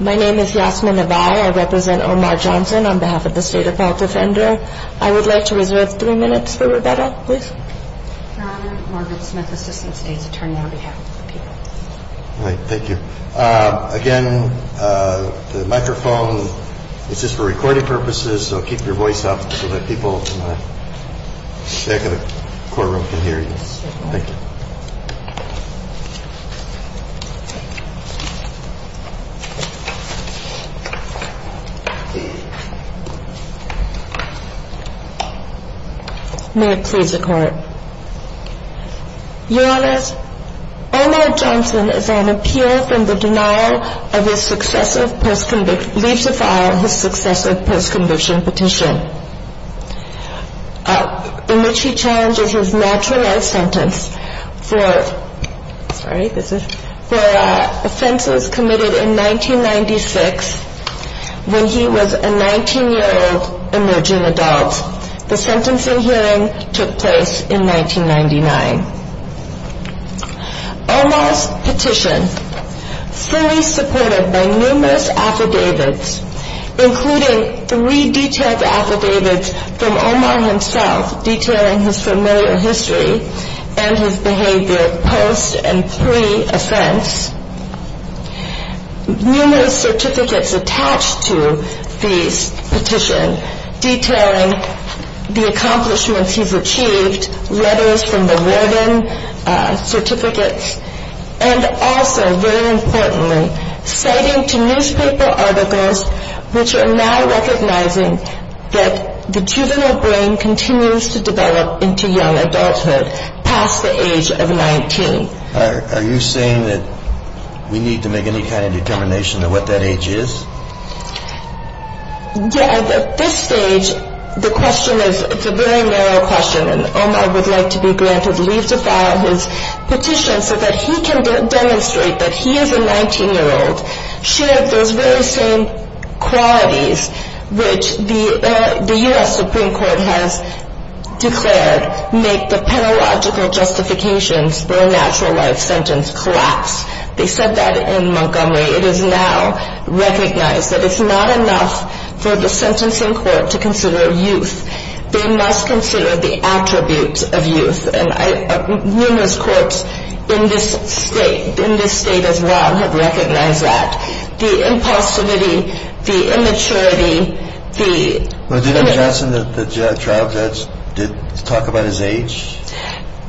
My name is Yasmin Abai. I represent Omar Johnson on behalf of the State Appellate Defender. I would like to reserve three minutes for Rebecca, please. Margaret Smith Assistant State's Attorney on behalf of the people. Thank you. Again, the microphone is just for recording purposes, so keep your voice up so that people in the back of the courtroom can hear you. Thank you. May it please the Court. Your Honors, Omar Johnson is on appeal from the denial of his successive post-conviction, leaves the file of his successive post-conviction petition. In which he challenges his naturalized sentence for offenses committed in 1996 when he was a 19-year-old emerging adult. The sentencing hearing took place in 1999. Omar's petition, fully supported by numerous affidavits, including three detailed affidavits from Omar himself detailing his familiar history and his behavior post and pre-offense. Numerous certificates attached to this petition detailing the accomplishments he's achieved, letters from the warden, certificates. And also, very importantly, citing to newspaper articles which are now recognizing that the juvenile brain continues to develop into young adulthood past the age of 19. Are you saying that we need to make any kind of determination of what that age is? Yeah, at this stage, the question is, it's a very narrow question. And Omar would like to be granted leave to file his petition so that he can demonstrate that he is a 19-year-old, shared those very same qualities which the U.S. Supreme Court has declared make the pedagogical justifications for a naturalized sentence collapse. They said that in Montgomery. It is now recognized that it's not enough for the sentencing court to consider youth. They must consider the attributes of youth. And numerous courts in this state, in this state as well, have recognized that. The impulsivity, the immaturity, the... Well, did M. Johnson, the trial judge, talk about his age?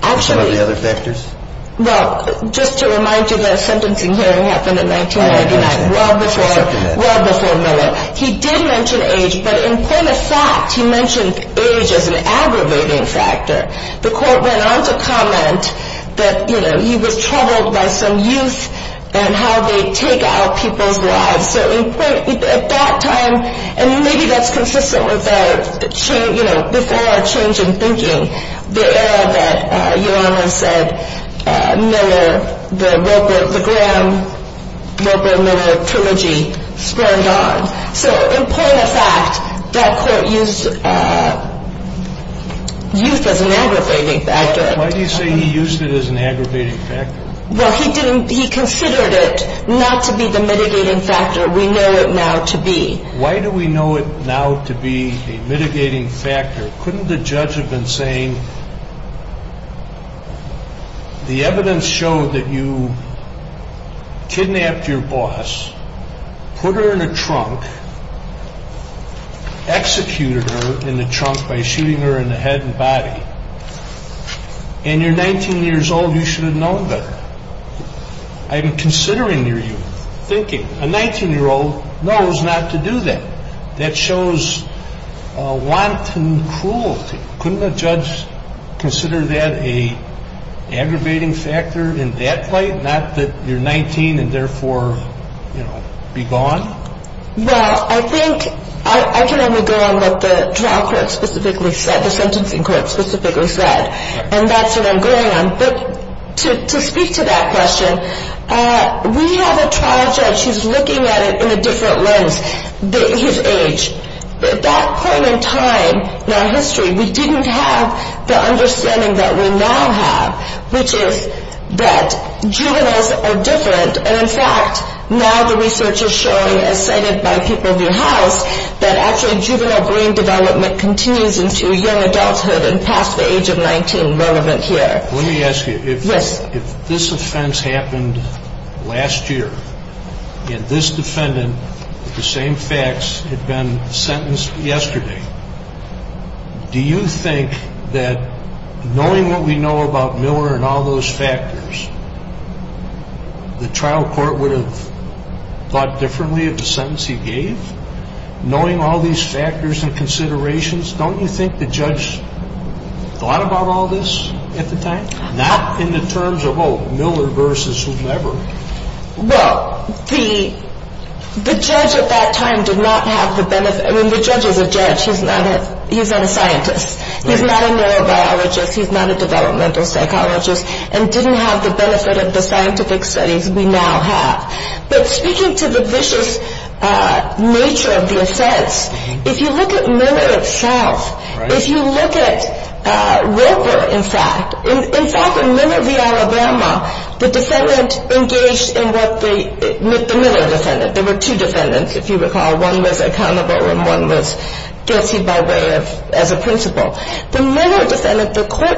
Actually... Or some of the other factors? Well, just to remind you that a sentencing hearing happened in 1999, well before Miller. He did mention age, but in point of fact, he mentioned age as an aggravating factor. The court went on to comment that, you know, he was troubled by some youth and how they take out people's lives. So at that time, and maybe that's consistent with the change, you know, before our change in thinking, the era that Your Honor said Miller, the Wilbur, the Graham-Wilbur-Miller trilogy sprang on. So in point of fact, that court used youth as an aggravating factor. Why do you say he used it as an aggravating factor? Well, he considered it not to be the mitigating factor we know it now to be. Why do we know it now to be a mitigating factor? Couldn't the judge have been saying the evidence showed that you kidnapped your boss, put her in a trunk, executed her in the trunk by shooting her in the head and body, and you're 19 years old, you should have known better? I'm considering your youth thinking a 19-year-old knows not to do that. That shows wanton cruelty. Couldn't a judge consider that an aggravating factor in that light, not that you're 19 and therefore, you know, be gone? Well, I think I can only go on what the trial court specifically said, the sentencing court specifically said, and that's what I'm going on. But to speak to that question, we have a trial judge who's looking at it in a different lens, his age. At that point in time in our history, we didn't have the understanding that we now have, which is that juveniles are different. And in fact, now the research is showing, as cited by People View House, that actually juvenile brain development continues into young adulthood and past the age of 19, relevant here. Let me ask you, if this offense happened last year, and this defendant, with the same facts, had been sentenced yesterday, do you think that knowing what we know about Miller and all those factors, the trial court would have thought differently of the sentence he gave? Knowing all these factors and considerations, don't you think the judge thought about all this at the time? Not in the terms of, oh, Miller versus whomever. Well, the judge at that time did not have the benefit. I mean, the judge is a judge. He's not a scientist. He's not a neurobiologist. He's not a developmental psychologist. And didn't have the benefit of the scientific studies we now have. But speaking to the vicious nature of the offense, if you look at Miller itself, if you look at River, in fact, in fact, in Miller v. Alabama, the defendant engaged in what the Miller defendant. There were two defendants, if you recall. One was accountable and one was guilty by way of, as a principle. The Miller defendant, the court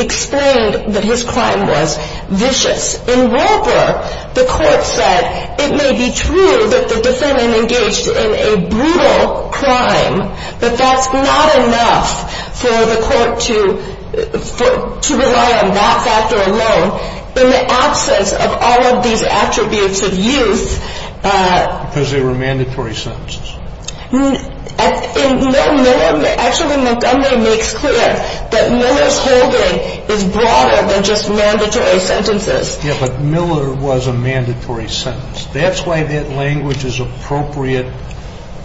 explained that his crime was vicious. In River, the court said it may be true that the defendant engaged in a brutal crime, but that's not enough for the court to rely on that factor alone. In the absence of all of these attributes of youth. Because they were mandatory sentences. Actually, Montgomery makes clear that Miller's holding is broader than just mandatory sentences. Yeah, but Miller was a mandatory sentence. That's why that language is appropriate,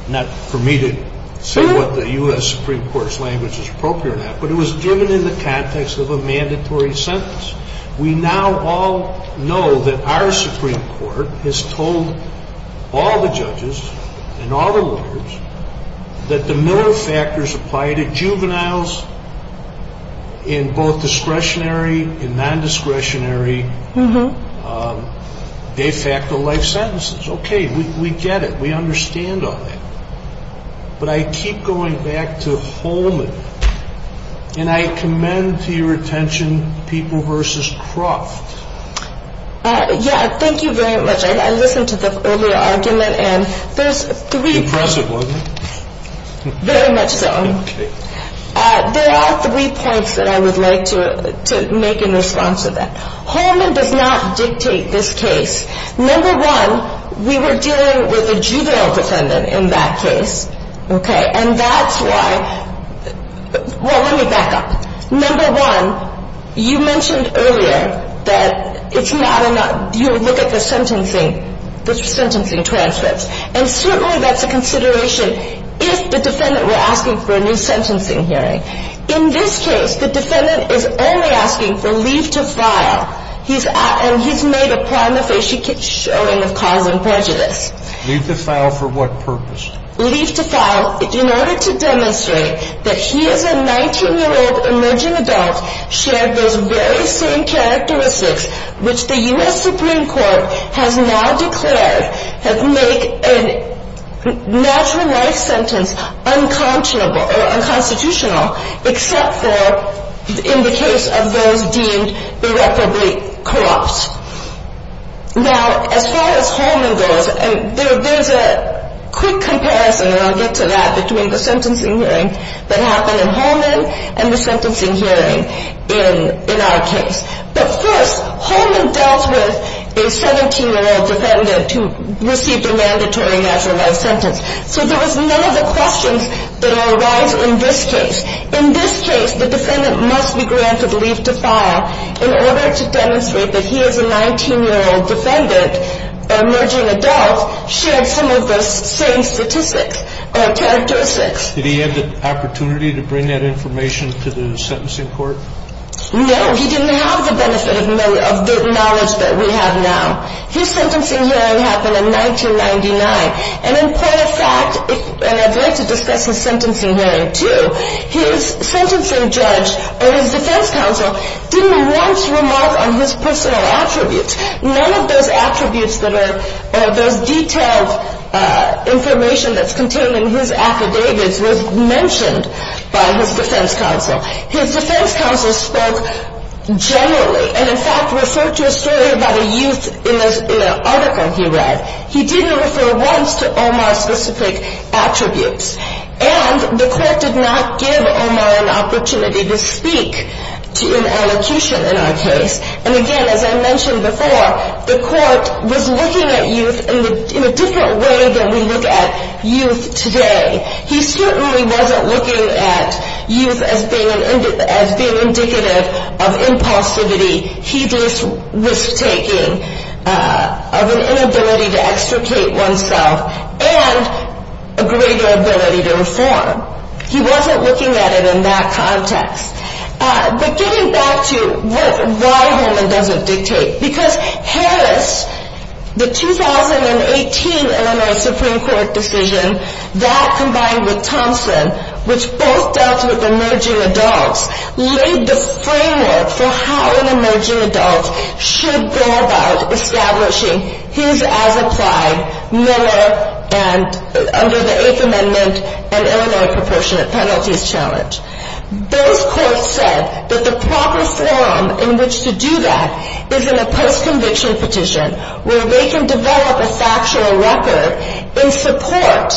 not for me to say what the U.S. Supreme Court's language is appropriate at, but it was driven in the context of a mandatory sentence. We now all know that our Supreme Court has told all the judges and all the lawyers that the Miller factors apply to juveniles in both discretionary and non-discretionary de facto life sentences. Okay, we get it. We understand all that. But I keep going back to Holman, and I commend to your attention People v. Croft. Yeah, thank you very much. I listened to the earlier argument, and there's three. Impressive, wasn't it? Very much so. Okay. There are three points that I would like to make in response to that. Holman does not dictate this case. Number one, we were dealing with a juvenile defendant in that case, okay? And that's why – well, let me back up. Number one, you mentioned earlier that it's not – you look at the sentencing transcripts, and certainly that's a consideration if the defendant were asking for a new sentencing hearing. In this case, the defendant is only asking for leave to file. And he's made a prima facie showing of cause and prejudice. Leave to file for what purpose? Leave to file in order to demonstrate that he, as a 19-year-old emerging adult, shared those very same characteristics which the U.S. Supreme Court has now declared have made a natural life sentence unconscionable or unconstitutional, except for in the case of those deemed irreparably corrupt. Now, as far as Holman goes, there's a quick comparison, and I'll get to that, between the sentencing hearing that happened in Holman and the sentencing hearing in our case. But first, Holman dealt with a 17-year-old defendant who received a mandatory natural life sentence. So there was none of the questions that arise in this case. In this case, the defendant must be granted leave to file in order to demonstrate that he, as a 19-year-old defendant, emerging adult, shared some of those same statistics or characteristics. Did he have the opportunity to bring that information to the sentencing court? No, he didn't have the benefit of the knowledge that we have now. His sentencing hearing happened in 1999. And in point of fact, and I'd like to discuss his sentencing hearing too, his sentencing judge or his defense counsel didn't once remark on his personal attributes. None of those attributes that are those detailed information that's contained in his affidavits was mentioned by his defense counsel. His defense counsel spoke generally and, in fact, referred to a story about a youth in an article he read. He didn't refer once to Omar's specific attributes. And the court did not give Omar an opportunity to speak to an allocution in our case. And again, as I mentioned before, the court was looking at youth in a different way than we look at youth today. He certainly wasn't looking at youth as being indicative of impulsivity, heedless risk-taking, of an inability to extricate oneself, and a greater ability to reform. He wasn't looking at it in that context. But getting back to why Herman doesn't dictate, because Harris, the 2018 Illinois Supreme Court decision, that combined with Thompson, which both dealt with emerging adults, laid the framework for how an emerging adult should go about establishing his, as applied, Miller and under the Eighth Amendment, an Illinois proportionate penalties challenge. Those courts said that the proper forum in which to do that is in a post-conviction petition, where they can develop a factual record in support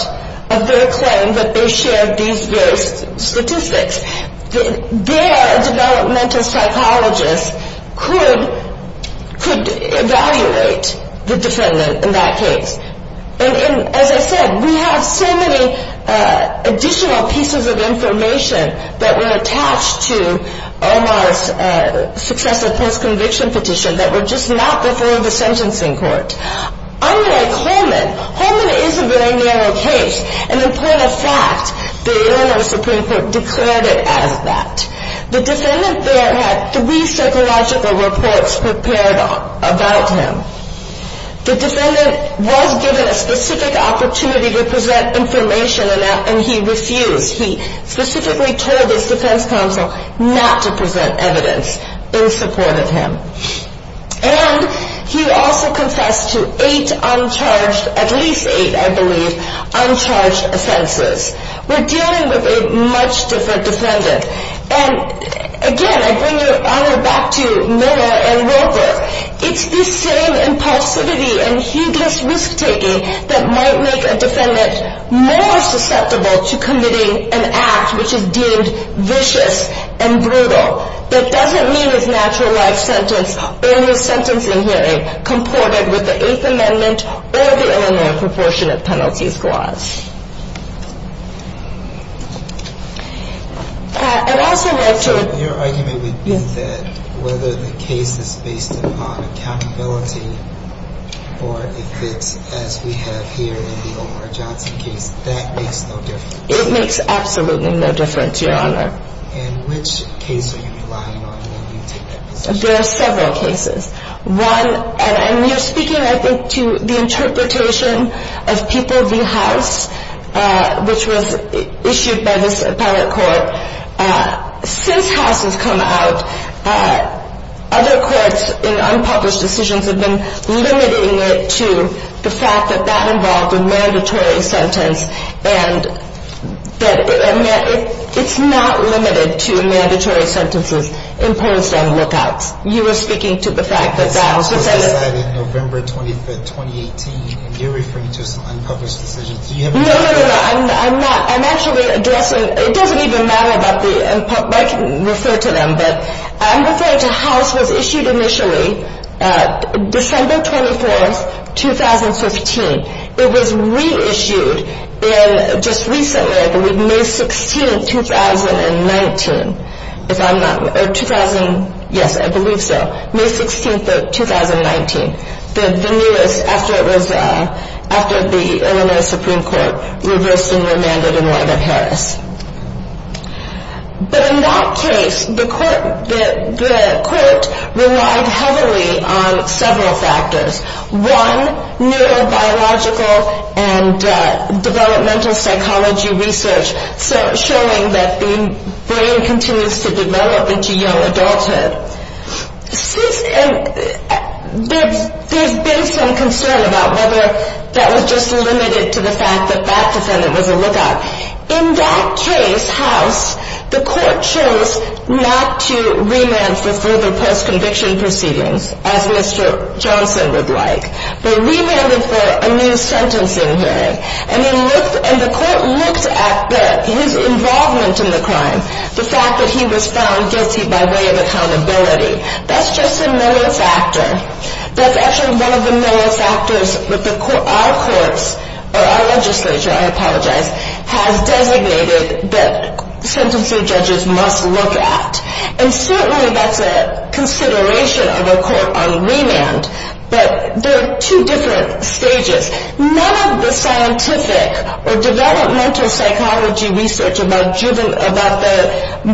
of their claim that they shared these various statistics. Their developmental psychologists could evaluate the defendant in that case. And as I said, we have so many additional pieces of information that were attached to Omar's successful post-conviction petition that were just not before the sentencing court. Unlike Holman, Holman is a very narrow case. And in point of fact, the Illinois Supreme Court declared it as that. The defendant there had three psychological reports prepared about him. The defendant was given a specific opportunity to present information, and he refused. He specifically told his defense counsel not to present evidence in support of him. And he also confessed to eight uncharged, at least eight, I believe, uncharged offenses. We're dealing with a much different defendant. And again, I bring your honor back to Miller and Wilker. It's the same impulsivity and heedless risk-taking that might make a defendant more susceptible to committing an act which is deemed vicious and brutal. That doesn't mean his natural life sentence or his sentencing hearing comported with the Eighth Amendment or the Illinois proportionate penalties clause. I'd also like to – Your argument would be that whether the case is based upon accountability or if it's as we have here in the Omar Johnson case, that makes no difference. It makes absolutely no difference, your honor. And which case are you relying on when you take that position? There are several cases. One – and you're speaking, I think, to the interpretation of People v. House, which was issued by this appellate court. Since House has come out, other courts in unpublished decisions have been limiting it to the fact that that involved a mandatory sentence. And it's not limited to mandatory sentences imposed on lookouts. You were speaking to the fact that – House was decided November 25, 2018. You're referring to some unpublished decisions. No, no, no, no. I'm not. I'm actually addressing – it doesn't even matter about the – I can refer to them. But I'm referring to House was issued initially December 24, 2015. It was reissued in – just recently, I believe – May 16, 2019. If I'm not – or 2000 – yes, I believe so. May 16, 2019. The newest, after it was – after the Illinois Supreme Court reversed and remanded in light of Harris. But in that case, the court relied heavily on several factors. One, neurobiological and developmental psychology research showing that the brain continues to develop into young adulthood. And there's been some concern about whether that was just limited to the fact that that defendant was a lookout. In that case, House, the court chose not to remand for further post-conviction proceedings, as Mr. Johnson would like. They remanded for a new sentencing hearing. And the court looked at his involvement in the crime, the fact that he was found guilty by way of accountability. That's just a malice factor. That's actually one of the malice factors that our courts – or our legislature, I apologize – has designated that sentencing judges must look at. And certainly, that's a consideration of a court on remand. But there are two different stages. None of the scientific or developmental psychology research about the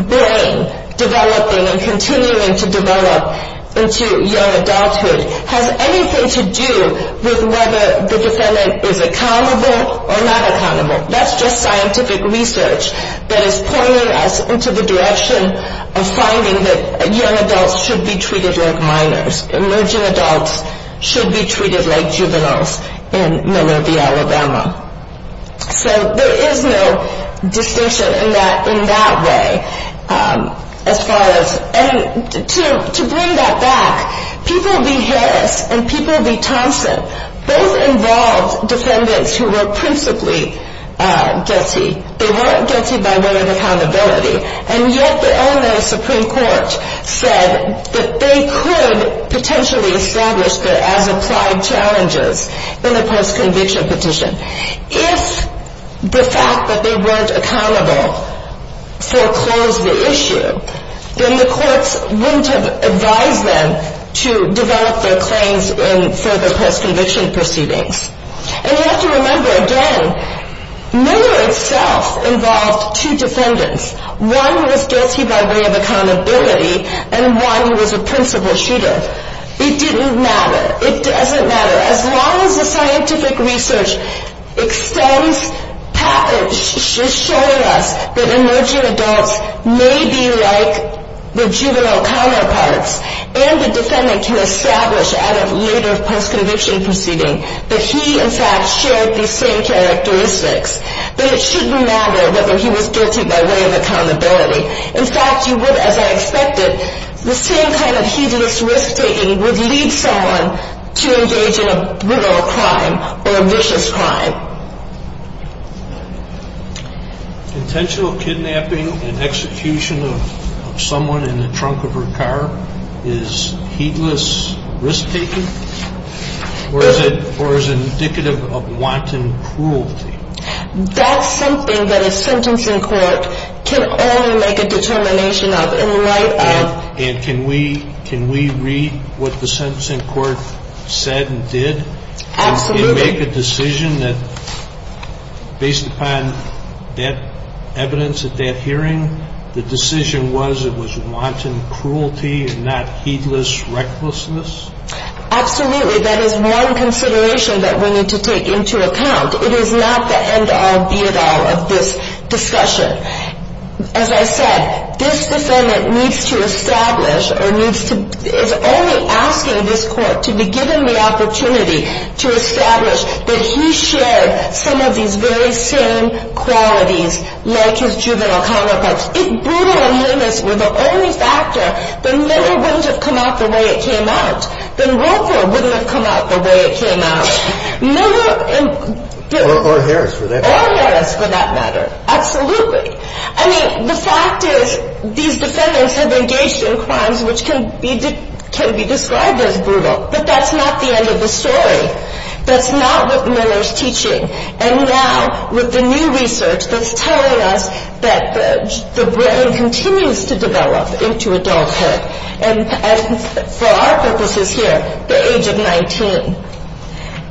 brain developing and continuing to develop into young adulthood has anything to do with whether the defendant is accountable or not accountable. That's just scientific research that is pointing us into the direction of finding that young adults should be treated like minors. Emerging adults should be treated like juveniles in Miller v. Alabama. So there is no distinction in that way. And to bring that back, people v. Harris and people v. Thompson both involved defendants who were principally guilty. They weren't guilty by way of accountability. And yet the Illinois Supreme Court said that they could potentially establish their as-applied challenges in the post-conviction petition. If the fact that they weren't accountable foreclosed the issue, then the courts wouldn't have advised them to develop their claims in further post-conviction proceedings. And you have to remember, again, Miller itself involved two defendants. One was guilty by way of accountability, and one was a principal shooter. It didn't matter. It doesn't matter. As long as the scientific research extends, patterns show us that emerging adults may be like the juvenile counterparts and the defendant can establish out of later post-conviction proceedings that he, in fact, shared these same characteristics. But it shouldn't matter whether he was guilty by way of accountability. In fact, you would, as I expected, the same kind of hideous risk-taking would lead someone to engage in a brutal crime or a vicious crime. Now, intentional kidnapping and execution of someone in the trunk of her car is heedless risk-taking? Or is it indicative of wanton cruelty? That's something that a sentencing court can only make a determination of in light of... And can we read what the sentencing court said and did? Absolutely. Can we make a decision that, based upon that evidence at that hearing, the decision was it was wanton cruelty and not heedless recklessness? Absolutely. That is one consideration that we need to take into account. It is not the end-all, be-it-all of this discussion. As I said, this defendant needs to establish, or is only asking this court to be given the opportunity to establish that he shared some of these very same qualities like his juvenile counterparts. If brutal and heinous were the only factor, then Miller wouldn't have come out the way it came out. Then Roper wouldn't have come out the way it came out. Or Harris, for that matter. Absolutely. I mean, the fact is, these defendants have engaged in crimes which can be described as brutal. But that's not the end of the story. That's not what Miller's teaching. And now, with the new research that's telling us that the brain continues to develop into adulthood. And for our purposes here, the age of 19.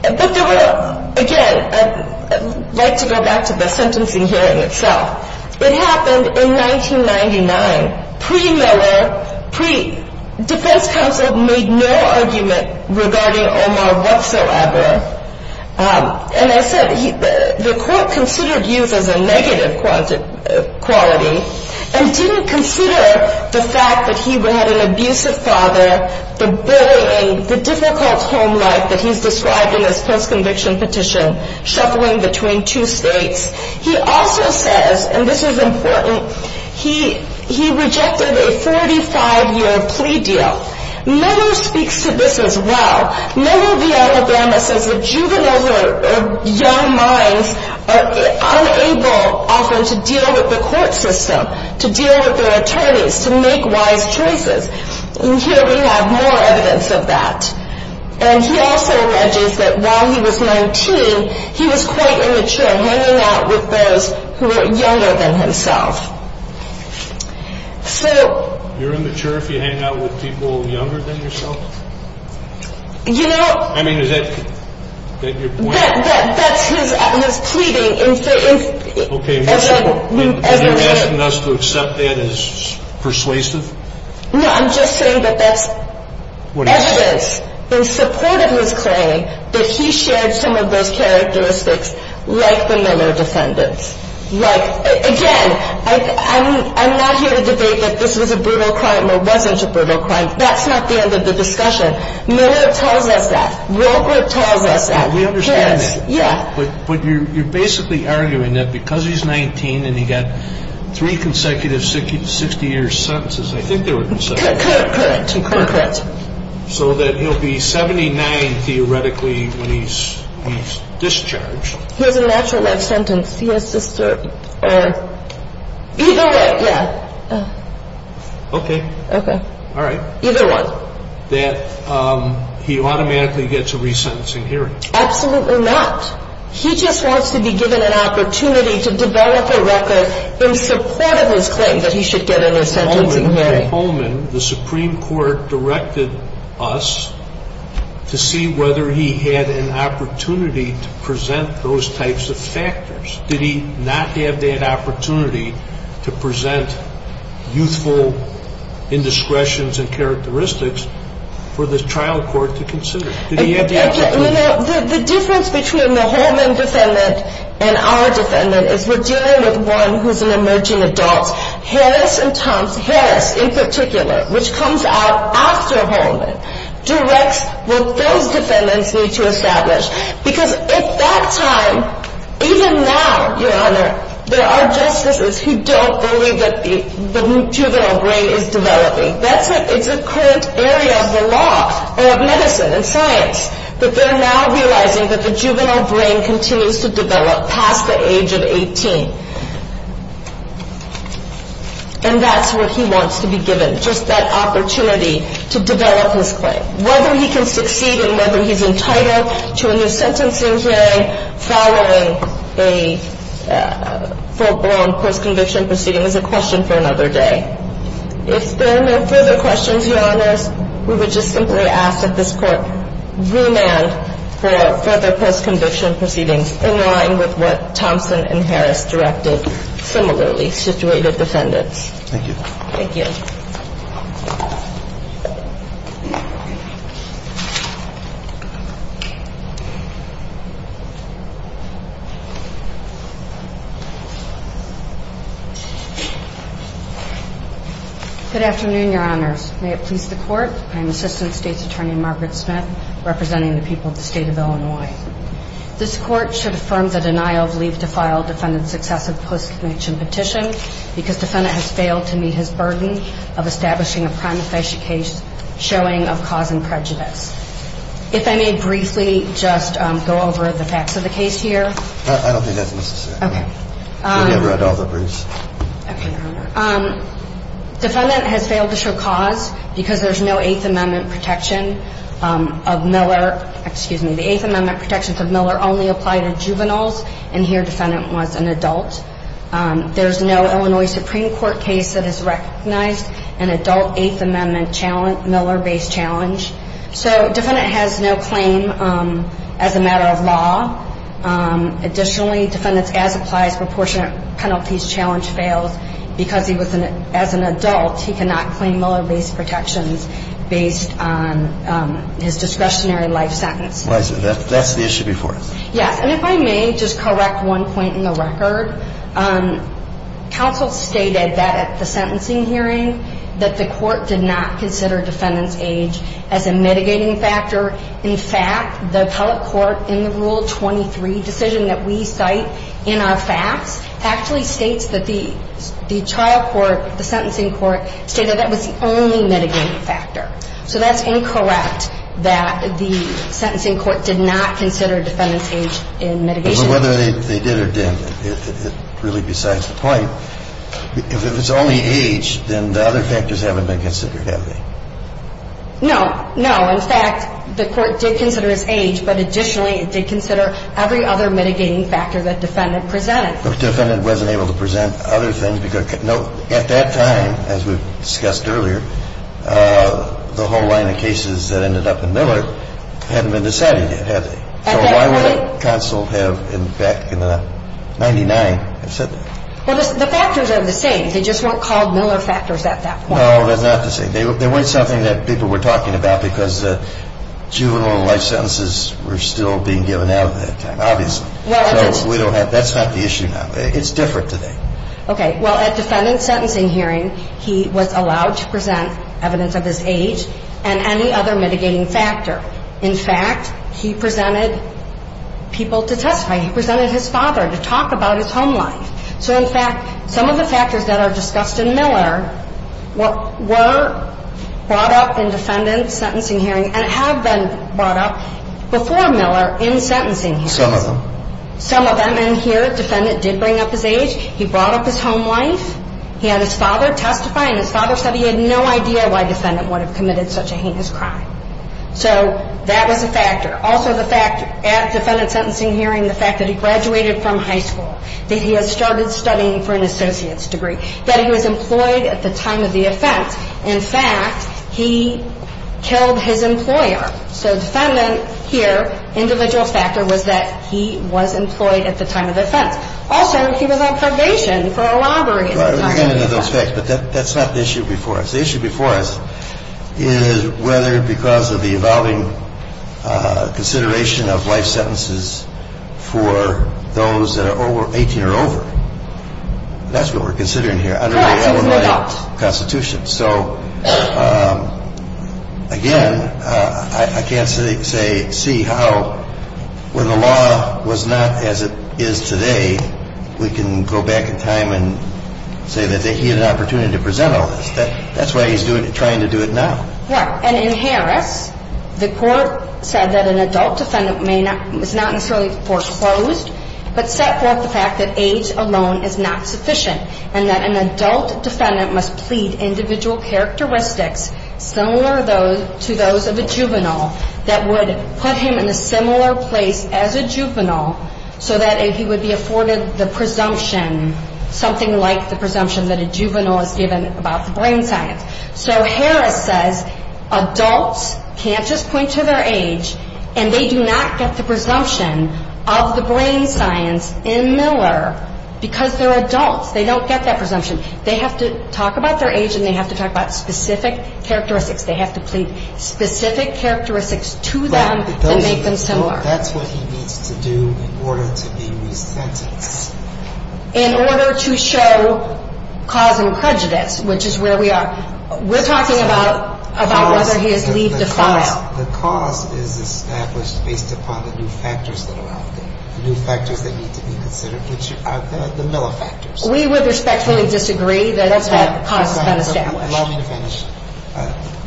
But there were, again, I'd like to go back to the sentencing hearing itself. It happened in 1999. Pre-Miller, pre-Defense Counsel made no argument regarding Omar whatsoever. And as I said, the court considered youth as a negative quality and didn't consider the fact that he had an abusive father, the bullying, the difficult home life that he's described in his post-conviction petition, shuffling between two states. He also says, and this is important, he rejected a 45-year plea deal. Miller speaks to this as well. Miller v. Alabama says that juveniles or young minds are unable, often, to deal with the court system, to deal with their attorneys, to make wise choices. And here we have more evidence of that. And he also alleges that while he was 19, he was quite immature, hanging out with those who were younger than himself. You're immature if you hang out with people younger than yourself? You know... I mean, is that your point? That's his pleading. Okay, and you're asking us to accept that as persuasive? No, I'm just saying that that's evidence in support of his claim that he shared some of those characteristics like the Miller defendants. Like, again, I'm not here to debate that this was a brutal crime or wasn't a brutal crime. That's not the end of the discussion. Miller tells us that. Roper tells us that. We understand that. Yeah. But you're basically arguing that because he's 19 and he got three consecutive 60-year sentences, I think they were consecutive. Current, current. So that he'll be 79, theoretically, when he's discharged. He has a natural death sentence. He has to serve either way. Yeah. Okay. Okay. All right. Either one. That he automatically gets a resentencing hearing. Absolutely not. He just wants to be given an opportunity to develop a record in support of his claim that he should get a resentencing hearing. The Supreme Court directed us to see whether he had an opportunity to present those types of factors. Did he not have that opportunity to present youthful indiscretions and characteristics for the trial court to consider? The difference between the Holman defendant and our defendant is we're dealing with one who's an emerging adult. Harris and Thompson, Harris in particular, which comes out after Holman, directs what those defendants need to establish. Because at that time, even now, Your Honor, there are justices who don't believe that the juvenile brain is developing. That's a current area of the law or of medicine and science, that they're now realizing that the juvenile brain continues to develop past the age of 18. And that's what he wants to be given, just that opportunity to develop his claim. Whether he can succeed and whether he's entitled to a new sentencing hearing following a full-blown post-conviction proceeding is a question for another day. If there are no further questions, Your Honors, we would just simply ask that this Court remand for further post-conviction proceedings in line with what Thompson and Harris directed similarly situated defendants. Thank you. Thank you. Good afternoon, Your Honors. May it please the Court. I'm Assistant State's Attorney Margaret Smith, representing the people of the state of Illinois. This Court should affirm the denial of leave to file defendant's excessive post-conviction petition because defendant has failed to meet his burden of establishing a prima facie case showing of cause and prejudice. If I may briefly just go over the facts of the case here. I don't think that's necessary. Okay. Maybe I read all the briefs. Okay. Defendant has failed to show cause because there's no Eighth Amendment protection of Miller. Excuse me. The Eighth Amendment protections of Miller only apply to juveniles, and here defendant was an adult. There's no Illinois Supreme Court case that has recognized an adult Eighth Amendment Miller-based challenge. So defendant has no claim as a matter of law. Additionally, defendant's as-applies proportionate penalties challenge fails because as an adult he cannot claim Miller-based protections based on his discretionary life sentence. That's the issue before us. Yes. And if I may just correct one point in the record. Counsel stated that at the sentencing hearing that the court did not consider defendant's age as a mitigating factor. In fact, the appellate court in the Rule 23 decision that we cite in our facts actually states that the trial court, the sentencing court, stated that was the only mitigating factor. So that's incorrect that the sentencing court did not consider defendant's age in mitigation. But whether they did or didn't, it really besides the point. If it's only age, then the other factors haven't been considered, have they? No. No. In fact, the court did consider his age. But additionally, it did consider every other mitigating factor that defendant presented. But defendant wasn't able to present other things. No. At that time, as we've discussed earlier, the whole line of cases that ended up in Miller hadn't been decided yet, had they? So why would counsel have, back in the 99, have said that? Well, the factors are the same. They just weren't called Miller factors at that point. No. That's not the same. They weren't something that people were talking about because juvenile life sentences were still being given out at that time, obviously. So we don't have that. That's not the issue now. It's different today. Okay. Well, at defendant's sentencing hearing, he was allowed to present evidence of his age and any other mitigating factor. In fact, he presented people to testify. He presented his father to talk about his home life. So, in fact, some of the factors that are discussed in Miller were brought up in defendant's sentencing hearing and have been brought up before Miller in sentencing hearings. Some of them. Some of them. And here, defendant did bring up his age. He brought up his home life. He had his father testify, and his father said he had no idea why defendant would have committed such a heinous crime. So that was a factor. Also, the fact at defendant's sentencing hearing, the fact that he graduated from high school, that he had started studying for an associate's degree, that he was employed at the time of the offense. In fact, he killed his employer. So defendant here, individual factor was that he was employed at the time of the offense. Also, he was on probation for a robbery at the time of the offense. I understand those facts, but that's not the issue before us. The issue before us is whether because of the evolving consideration of life sentences for those that are over 18 or over. That's what we're considering here under the Illinois Constitution. So, again, I can't say see how when the law was not as it is today, we can go back in time and say that he had an opportunity to present all this. That's why he's trying to do it now. Right. And in Harris, the court said that an adult defendant is not necessarily foreclosed, but set forth the fact that age alone is not sufficient, and that an adult defendant must plead individual characteristics similar to those of a juvenile that would put him in a similar place as a juvenile so that he would be afforded the presumption, something like the presumption that a juvenile is given about the brain science. So Harris says adults can't just point to their age, and they do not get the presumption of the brain science in Miller because they're adults. They don't get that presumption. They have to talk about their age, and they have to talk about specific characteristics. They have to plead specific characteristics to them to make them similar. That's what he needs to do in order to be resentenced. In order to show cause and prejudice, which is where we are. We're talking about whether he has leaved the file. The cause is established based upon the new factors that are out there, the new factors that need to be considered, which are the Miller factors. We would respectfully disagree that that cause is not established. Allow me to finish.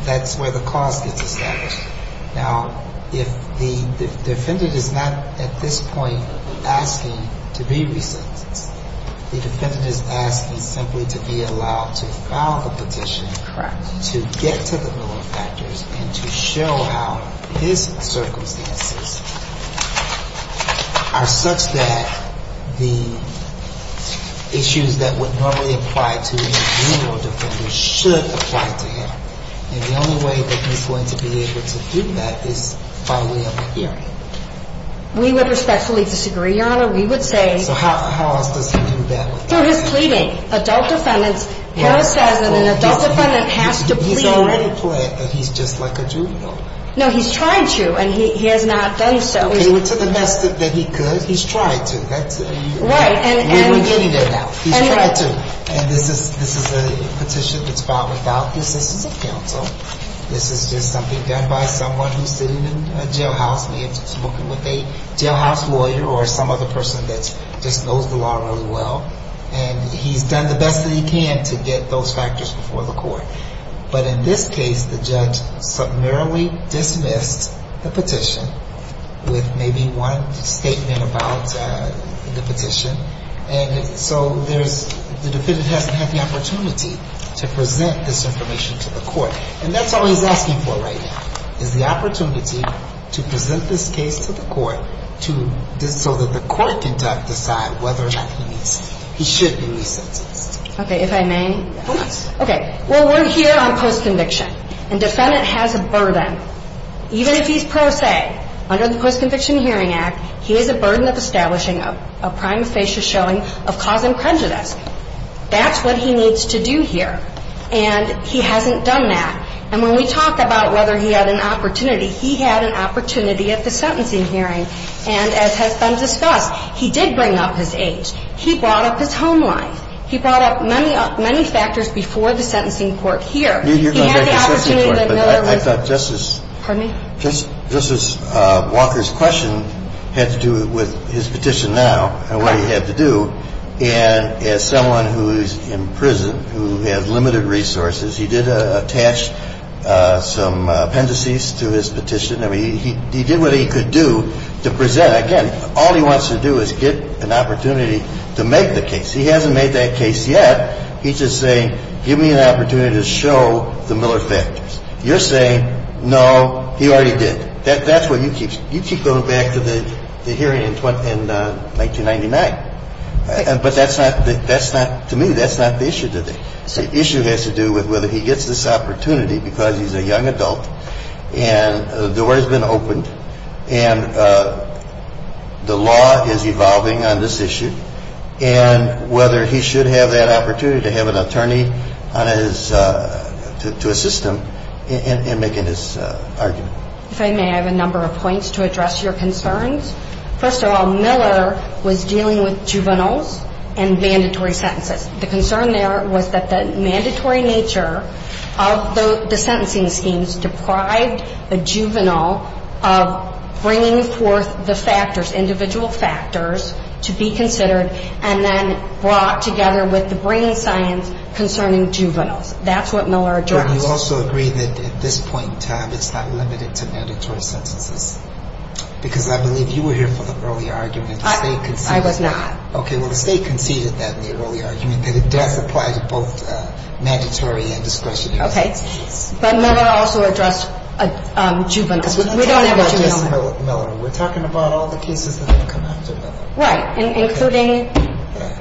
That's where the cause gets established. Now, if the defendant is not at this point asking to be resentenced, the defendant is asking simply to be allowed to file the petition to get to the Miller factors and to show how his circumstances are such that the issues that would normally apply to a juvenile defender should apply to him. And the only way that he's going to be able to do that is by way of a hearing. We would respectfully disagree, Your Honor. We would say. So how else does he do that? Through his pleading. Adult defendants. Harris says that an adult defendant has to plead. He's already pled that he's just like a juvenile. No, he's tried to, and he has not done so. He went to the best that he could. He's tried to. Right. We're getting there now. He's tried to. And this is a petition that's filed without the assistance of counsel. This is just something done by someone who's sitting in a jailhouse, maybe just working with a jailhouse lawyer or some other person that just knows the law really well. And he's done the best that he can to get those factors before the court. But in this case, the judge summarily dismissed the petition with maybe one statement about the petition. And so the defendant hasn't had the opportunity to present this information to the court. And that's all he's asking for right now is the opportunity to present this case to the court so that the court can decide whether or not he should be re-sentenced. Okay. If I may. Please. Okay. Well, we're here on post-conviction, and defendant has a burden. Even if he's pro se, under the Post-Conviction Hearing Act, he has a burden of establishing a prime facia showing of cause imprejudice. That's what he needs to do here. And he hasn't done that. And when we talk about whether he had an opportunity, he had an opportunity at the sentencing hearing. And as has been discussed, he did bring up his age. He brought up his home life. He brought up many factors before the sentencing court here. He had the opportunity that Miller was. Justice Walker's question had to do with his petition now and what he had to do. And as someone who is in prison who has limited resources, he did attach some appendices to his petition. I mean, he did what he could do to present. Again, all he wants to do is get an opportunity to make the case. He hasn't made that case yet. He's just saying, give me an opportunity to show the Miller factors. You're saying, no, he already did. That's what you keep. You keep going back to the hearing in 1999. But that's not, to me, that's not the issue today. The issue has to do with whether he gets this opportunity because he's a young adult and the door has been opened and the law is evolving on this issue and whether he should have that opportunity to have an attorney to assist him in making his argument. If I may, I have a number of points to address your concerns. First of all, Miller was dealing with juveniles and mandatory sentences. The concern there was that the mandatory nature of the sentencing schemes deprived the juvenile of bringing forth the factors, individual factors, to be considered and then brought together with the brain science concerning juveniles. That's what Miller addressed. But you also agree that at this point in time it's not limited to mandatory sentences because I believe you were here for the early argument. I was not. Okay. Well, the State conceded that in the early argument that it does apply to both mandatory and discretionary sentences. Okay. But Miller also addressed juveniles. We're not talking about just Miller. We're talking about all the cases that have come after Miller. Right.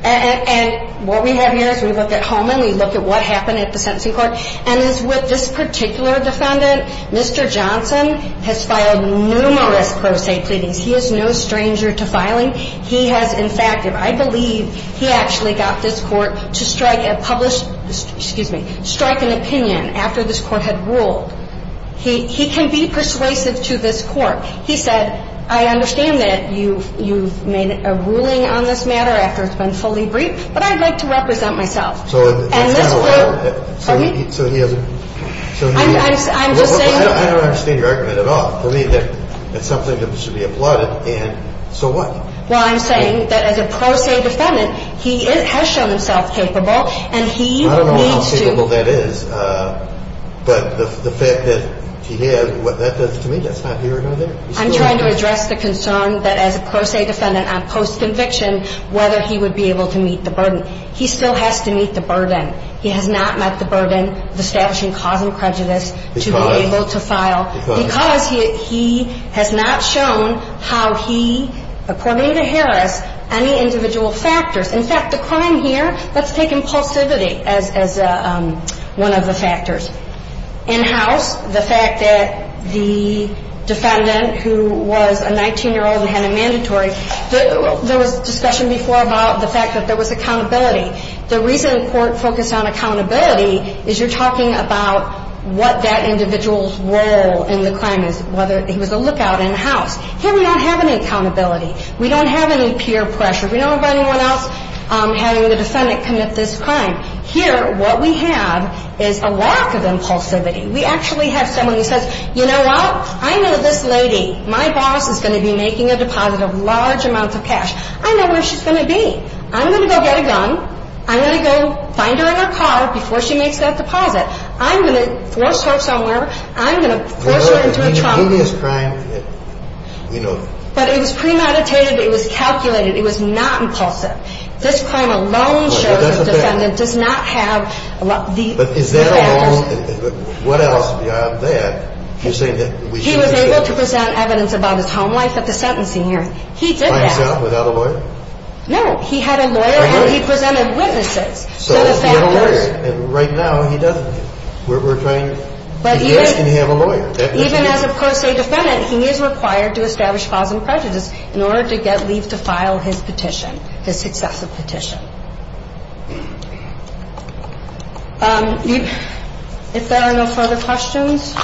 And what we have here is we look at Holman. We look at what happened at the sentencing court. And as with this particular defendant, Mr. Johnson has filed numerous pro se pleadings. He is no stranger to filing. He has, in fact, if I believe, he actually got this court to strike an opinion after this court had ruled. He can be persuasive to this court. He said, I understand that you've made a ruling on this matter after it's been fully briefed, but I'd like to represent myself. So he hasn't. I'm just saying. I don't understand your argument at all. For me, it's something that should be applauded, and so what? Well, I'm saying that as a pro se defendant, he has shown himself capable, and he needs to. I'm trying to address the concern that as a pro se defendant on post conviction, whether he would be able to meet the burden. He still has to meet the burden. He has not met the burden of establishing cause and prejudice to be able to file, because he has not shown how he, according to Harris, any individual factors. In fact, the crime here, let's take impulsivity as an example. One of the factors. In-house, the fact that the defendant, who was a 19-year-old and had a mandatory, there was discussion before about the fact that there was accountability. The reason the court focused on accountability is you're talking about what that individual's role in the crime is, whether he was a lookout in-house. Here we don't have any accountability. We don't have any peer pressure. We don't have anyone else having the defendant commit this crime. Here what we have is a lack of impulsivity. We actually have someone who says, you know what, I know this lady. My boss is going to be making a deposit of large amounts of cash. I know where she's going to be. I'm going to go get a gun. I'm going to go find her in her car before she makes that deposit. I'm going to force her somewhere. I'm going to force her into a trunk. But it was premeditated. It was calculated. It was not impulsive. This crime alone shows the defendant does not have the factors. But is that alone? What else beyond that? He was able to present evidence about his home life at the sentencing hearing. He did that. By himself, without a lawyer? No. He had a lawyer, and he presented witnesses to the factors. So if you have a lawyer, and right now he doesn't. We're trying to get him to have a lawyer. Even as a per se defendant, he is required to establish cause and prejudice in order to get leave to file his petition. you are required to establish a cause and prejudice in order to get leave to file the successive petition. If there are no further questions,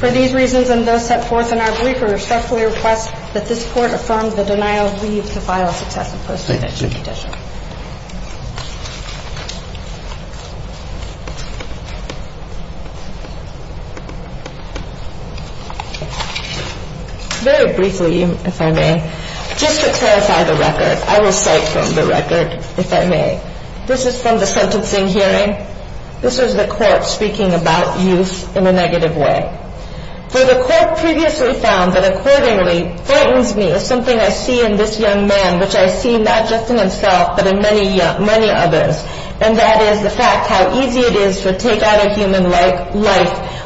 for these reasons and those set forth in our brief, we respectfully request that this Court affirm the denial of leave to file a successive post-petition petition. Very briefly, if I may, just to clarify the record. I will cite from the record, if I may. This is from the sentencing hearing. This was the court speaking about youth in a negative way. For the court previously found that accordingly, is something I see in this young man, which I see not just in himself, but in many others. And that is the fact how easy it is to take out a human life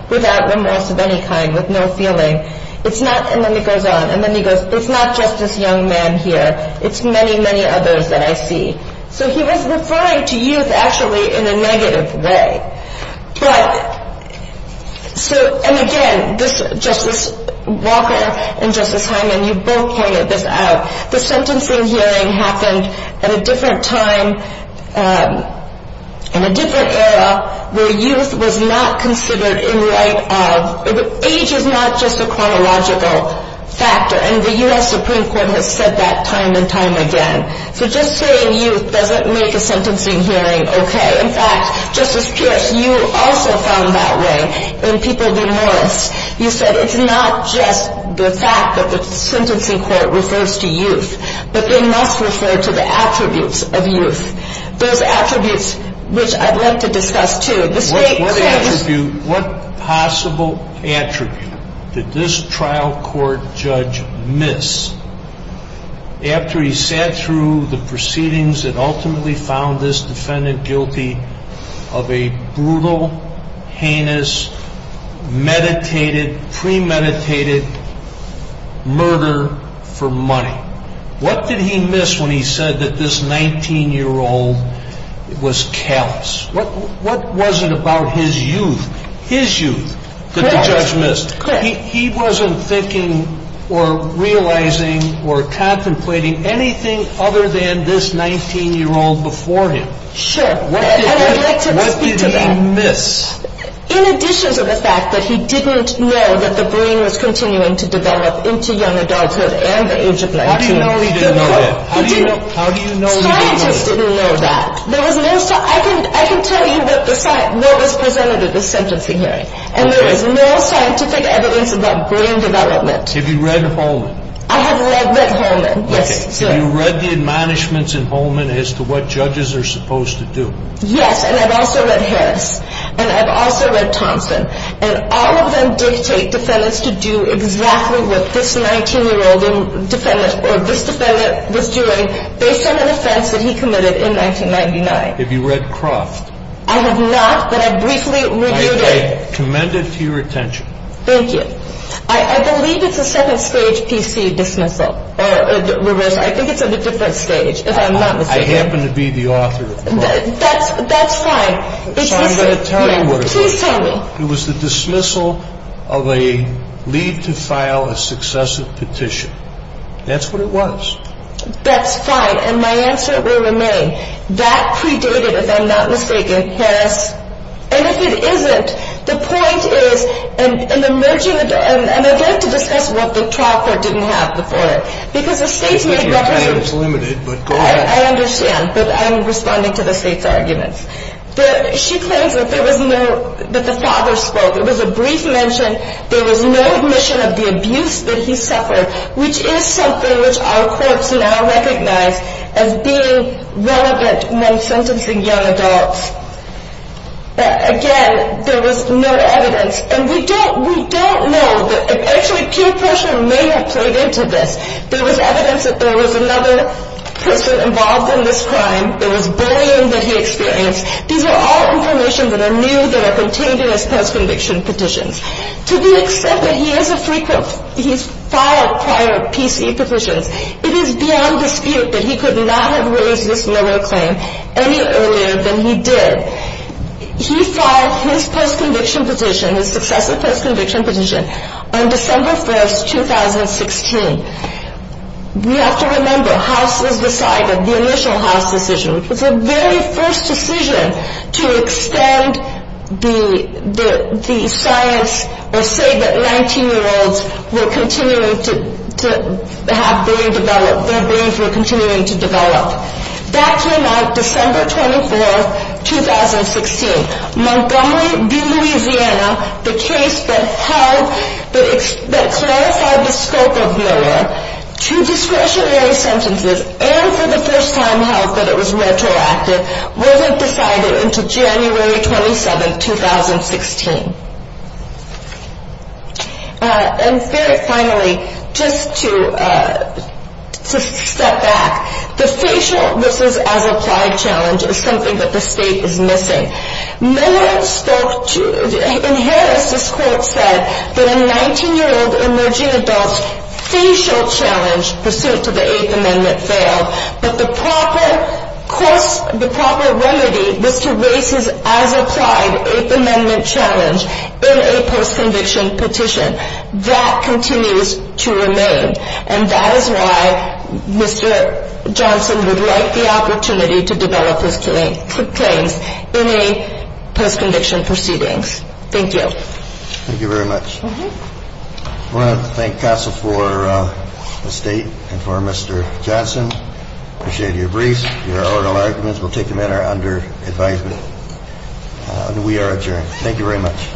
without remorse of any kind, with no feeling. It's not, and then it goes on, and then he goes, it's not just this young man here. It's many, many others that I see. So he was referring to youth actually in a negative way. And again, Justice Walker and Justice Hyman, you both pointed this out. The sentencing hearing happened at a different time, in a different era, where youth was not considered in light of, age is not just a chronological factor. And the U.S. Supreme Court has said that time and time again. So just saying youth doesn't make a sentencing hearing okay. In fact, Justice Pierce, you also found that way in People v. Morris. You said it's not just the fact that the sentencing court refers to youth, but they must refer to the attributes of youth. Those attributes, which I'd like to discuss too. What possible attribute did this trial court judge miss after he sat through the proceedings and ultimately found this defendant guilty of a brutal, heinous, meditated, premeditated murder for money? What did he miss when he said that this 19-year-old was callous? What was it about his youth, his youth, that the judge missed? He wasn't thinking or realizing or contemplating anything other than this 19-year-old before him. Sure. And I'd like to speak to that. What did he miss? In addition to the fact that he didn't know that the brain was continuing to develop into young adulthood and the age of 19. How do you know he didn't know that? He didn't know. How do you know he didn't know that? Scientists didn't know that. I can tell you that no one was presented at the sentencing hearing. And there is no scientific evidence about brain development. Have you read Holman? I have read Holman, yes. Have you read the admonishments in Holman as to what judges are supposed to do? Yes, and I've also read Harris, and I've also read Thompson. And all of them dictate defendants to do exactly what this 19-year-old defendant or this defendant was doing based on an offense that he committed in 1999. Have you read Croft? I have not, but I briefly read it. Okay, commend it to your attention. Thank you. I believe it's a second-stage PC dismissal or reverse. I think it's at a different stage, if I'm not mistaken. I happen to be the author of Croft. That's fine. So I'm going to tell you what it is. Please tell me. It was the dismissal of a lead to file a successive petition. That's what it was. That's fine, and my answer will remain. That predated, if I'm not mistaken, Harris. And if it isn't, the point is, and I'd like to discuss what the trial court didn't have before it. Because the state's made reference to it. I understand, but I'm responding to the state's arguments. She claims that the father spoke. It was a brief mention. There was no admission of the abuse that he suffered, which is something which our courts now recognize as being relevant when sentencing young adults. Again, there was no evidence. And we don't know. Actually, peer pressure may have played into this. There was evidence that there was another person involved in this crime. There was bullying that he experienced. These are all information that are new, that are contained in his past conviction petitions. To the extent that he has filed prior PC petitions, it is beyond dispute that he could not have raised this murder claim any earlier than he did. He filed his post-conviction petition, his successive post-conviction petition, on December 1, 2016. We have to remember, House has decided, the initial House decision, which was the very first decision to extend the science or say that 19-year-olds were continuing to have brain development, their brains were continuing to develop. That came out December 24, 2016. Montgomery v. Louisiana, the case that held, that clarified the scope of Miller, two discretionary sentences, and for the first time held that it was retroactive, wasn't decided until January 27, 2016. And very finally, just to step back, the facial, this is as applied challenge, is something that the state is missing. Miller spoke to, in Harris, this court said, that a 19-year-old emerging adult's facial challenge pursuant to the Eighth Amendment failed, but the proper remedy was to raise his, as applied, Eighth Amendment challenge in a post-conviction petition. That continues to remain. And that is why Mr. Johnson would like the opportunity to develop his claims in a post-conviction proceedings. Thank you. Thank you very much. I want to thank counsel for the state and for Mr. Johnson. Appreciate your briefs, your oral arguments. We'll take them under advisement. We are adjourned. Thank you very much.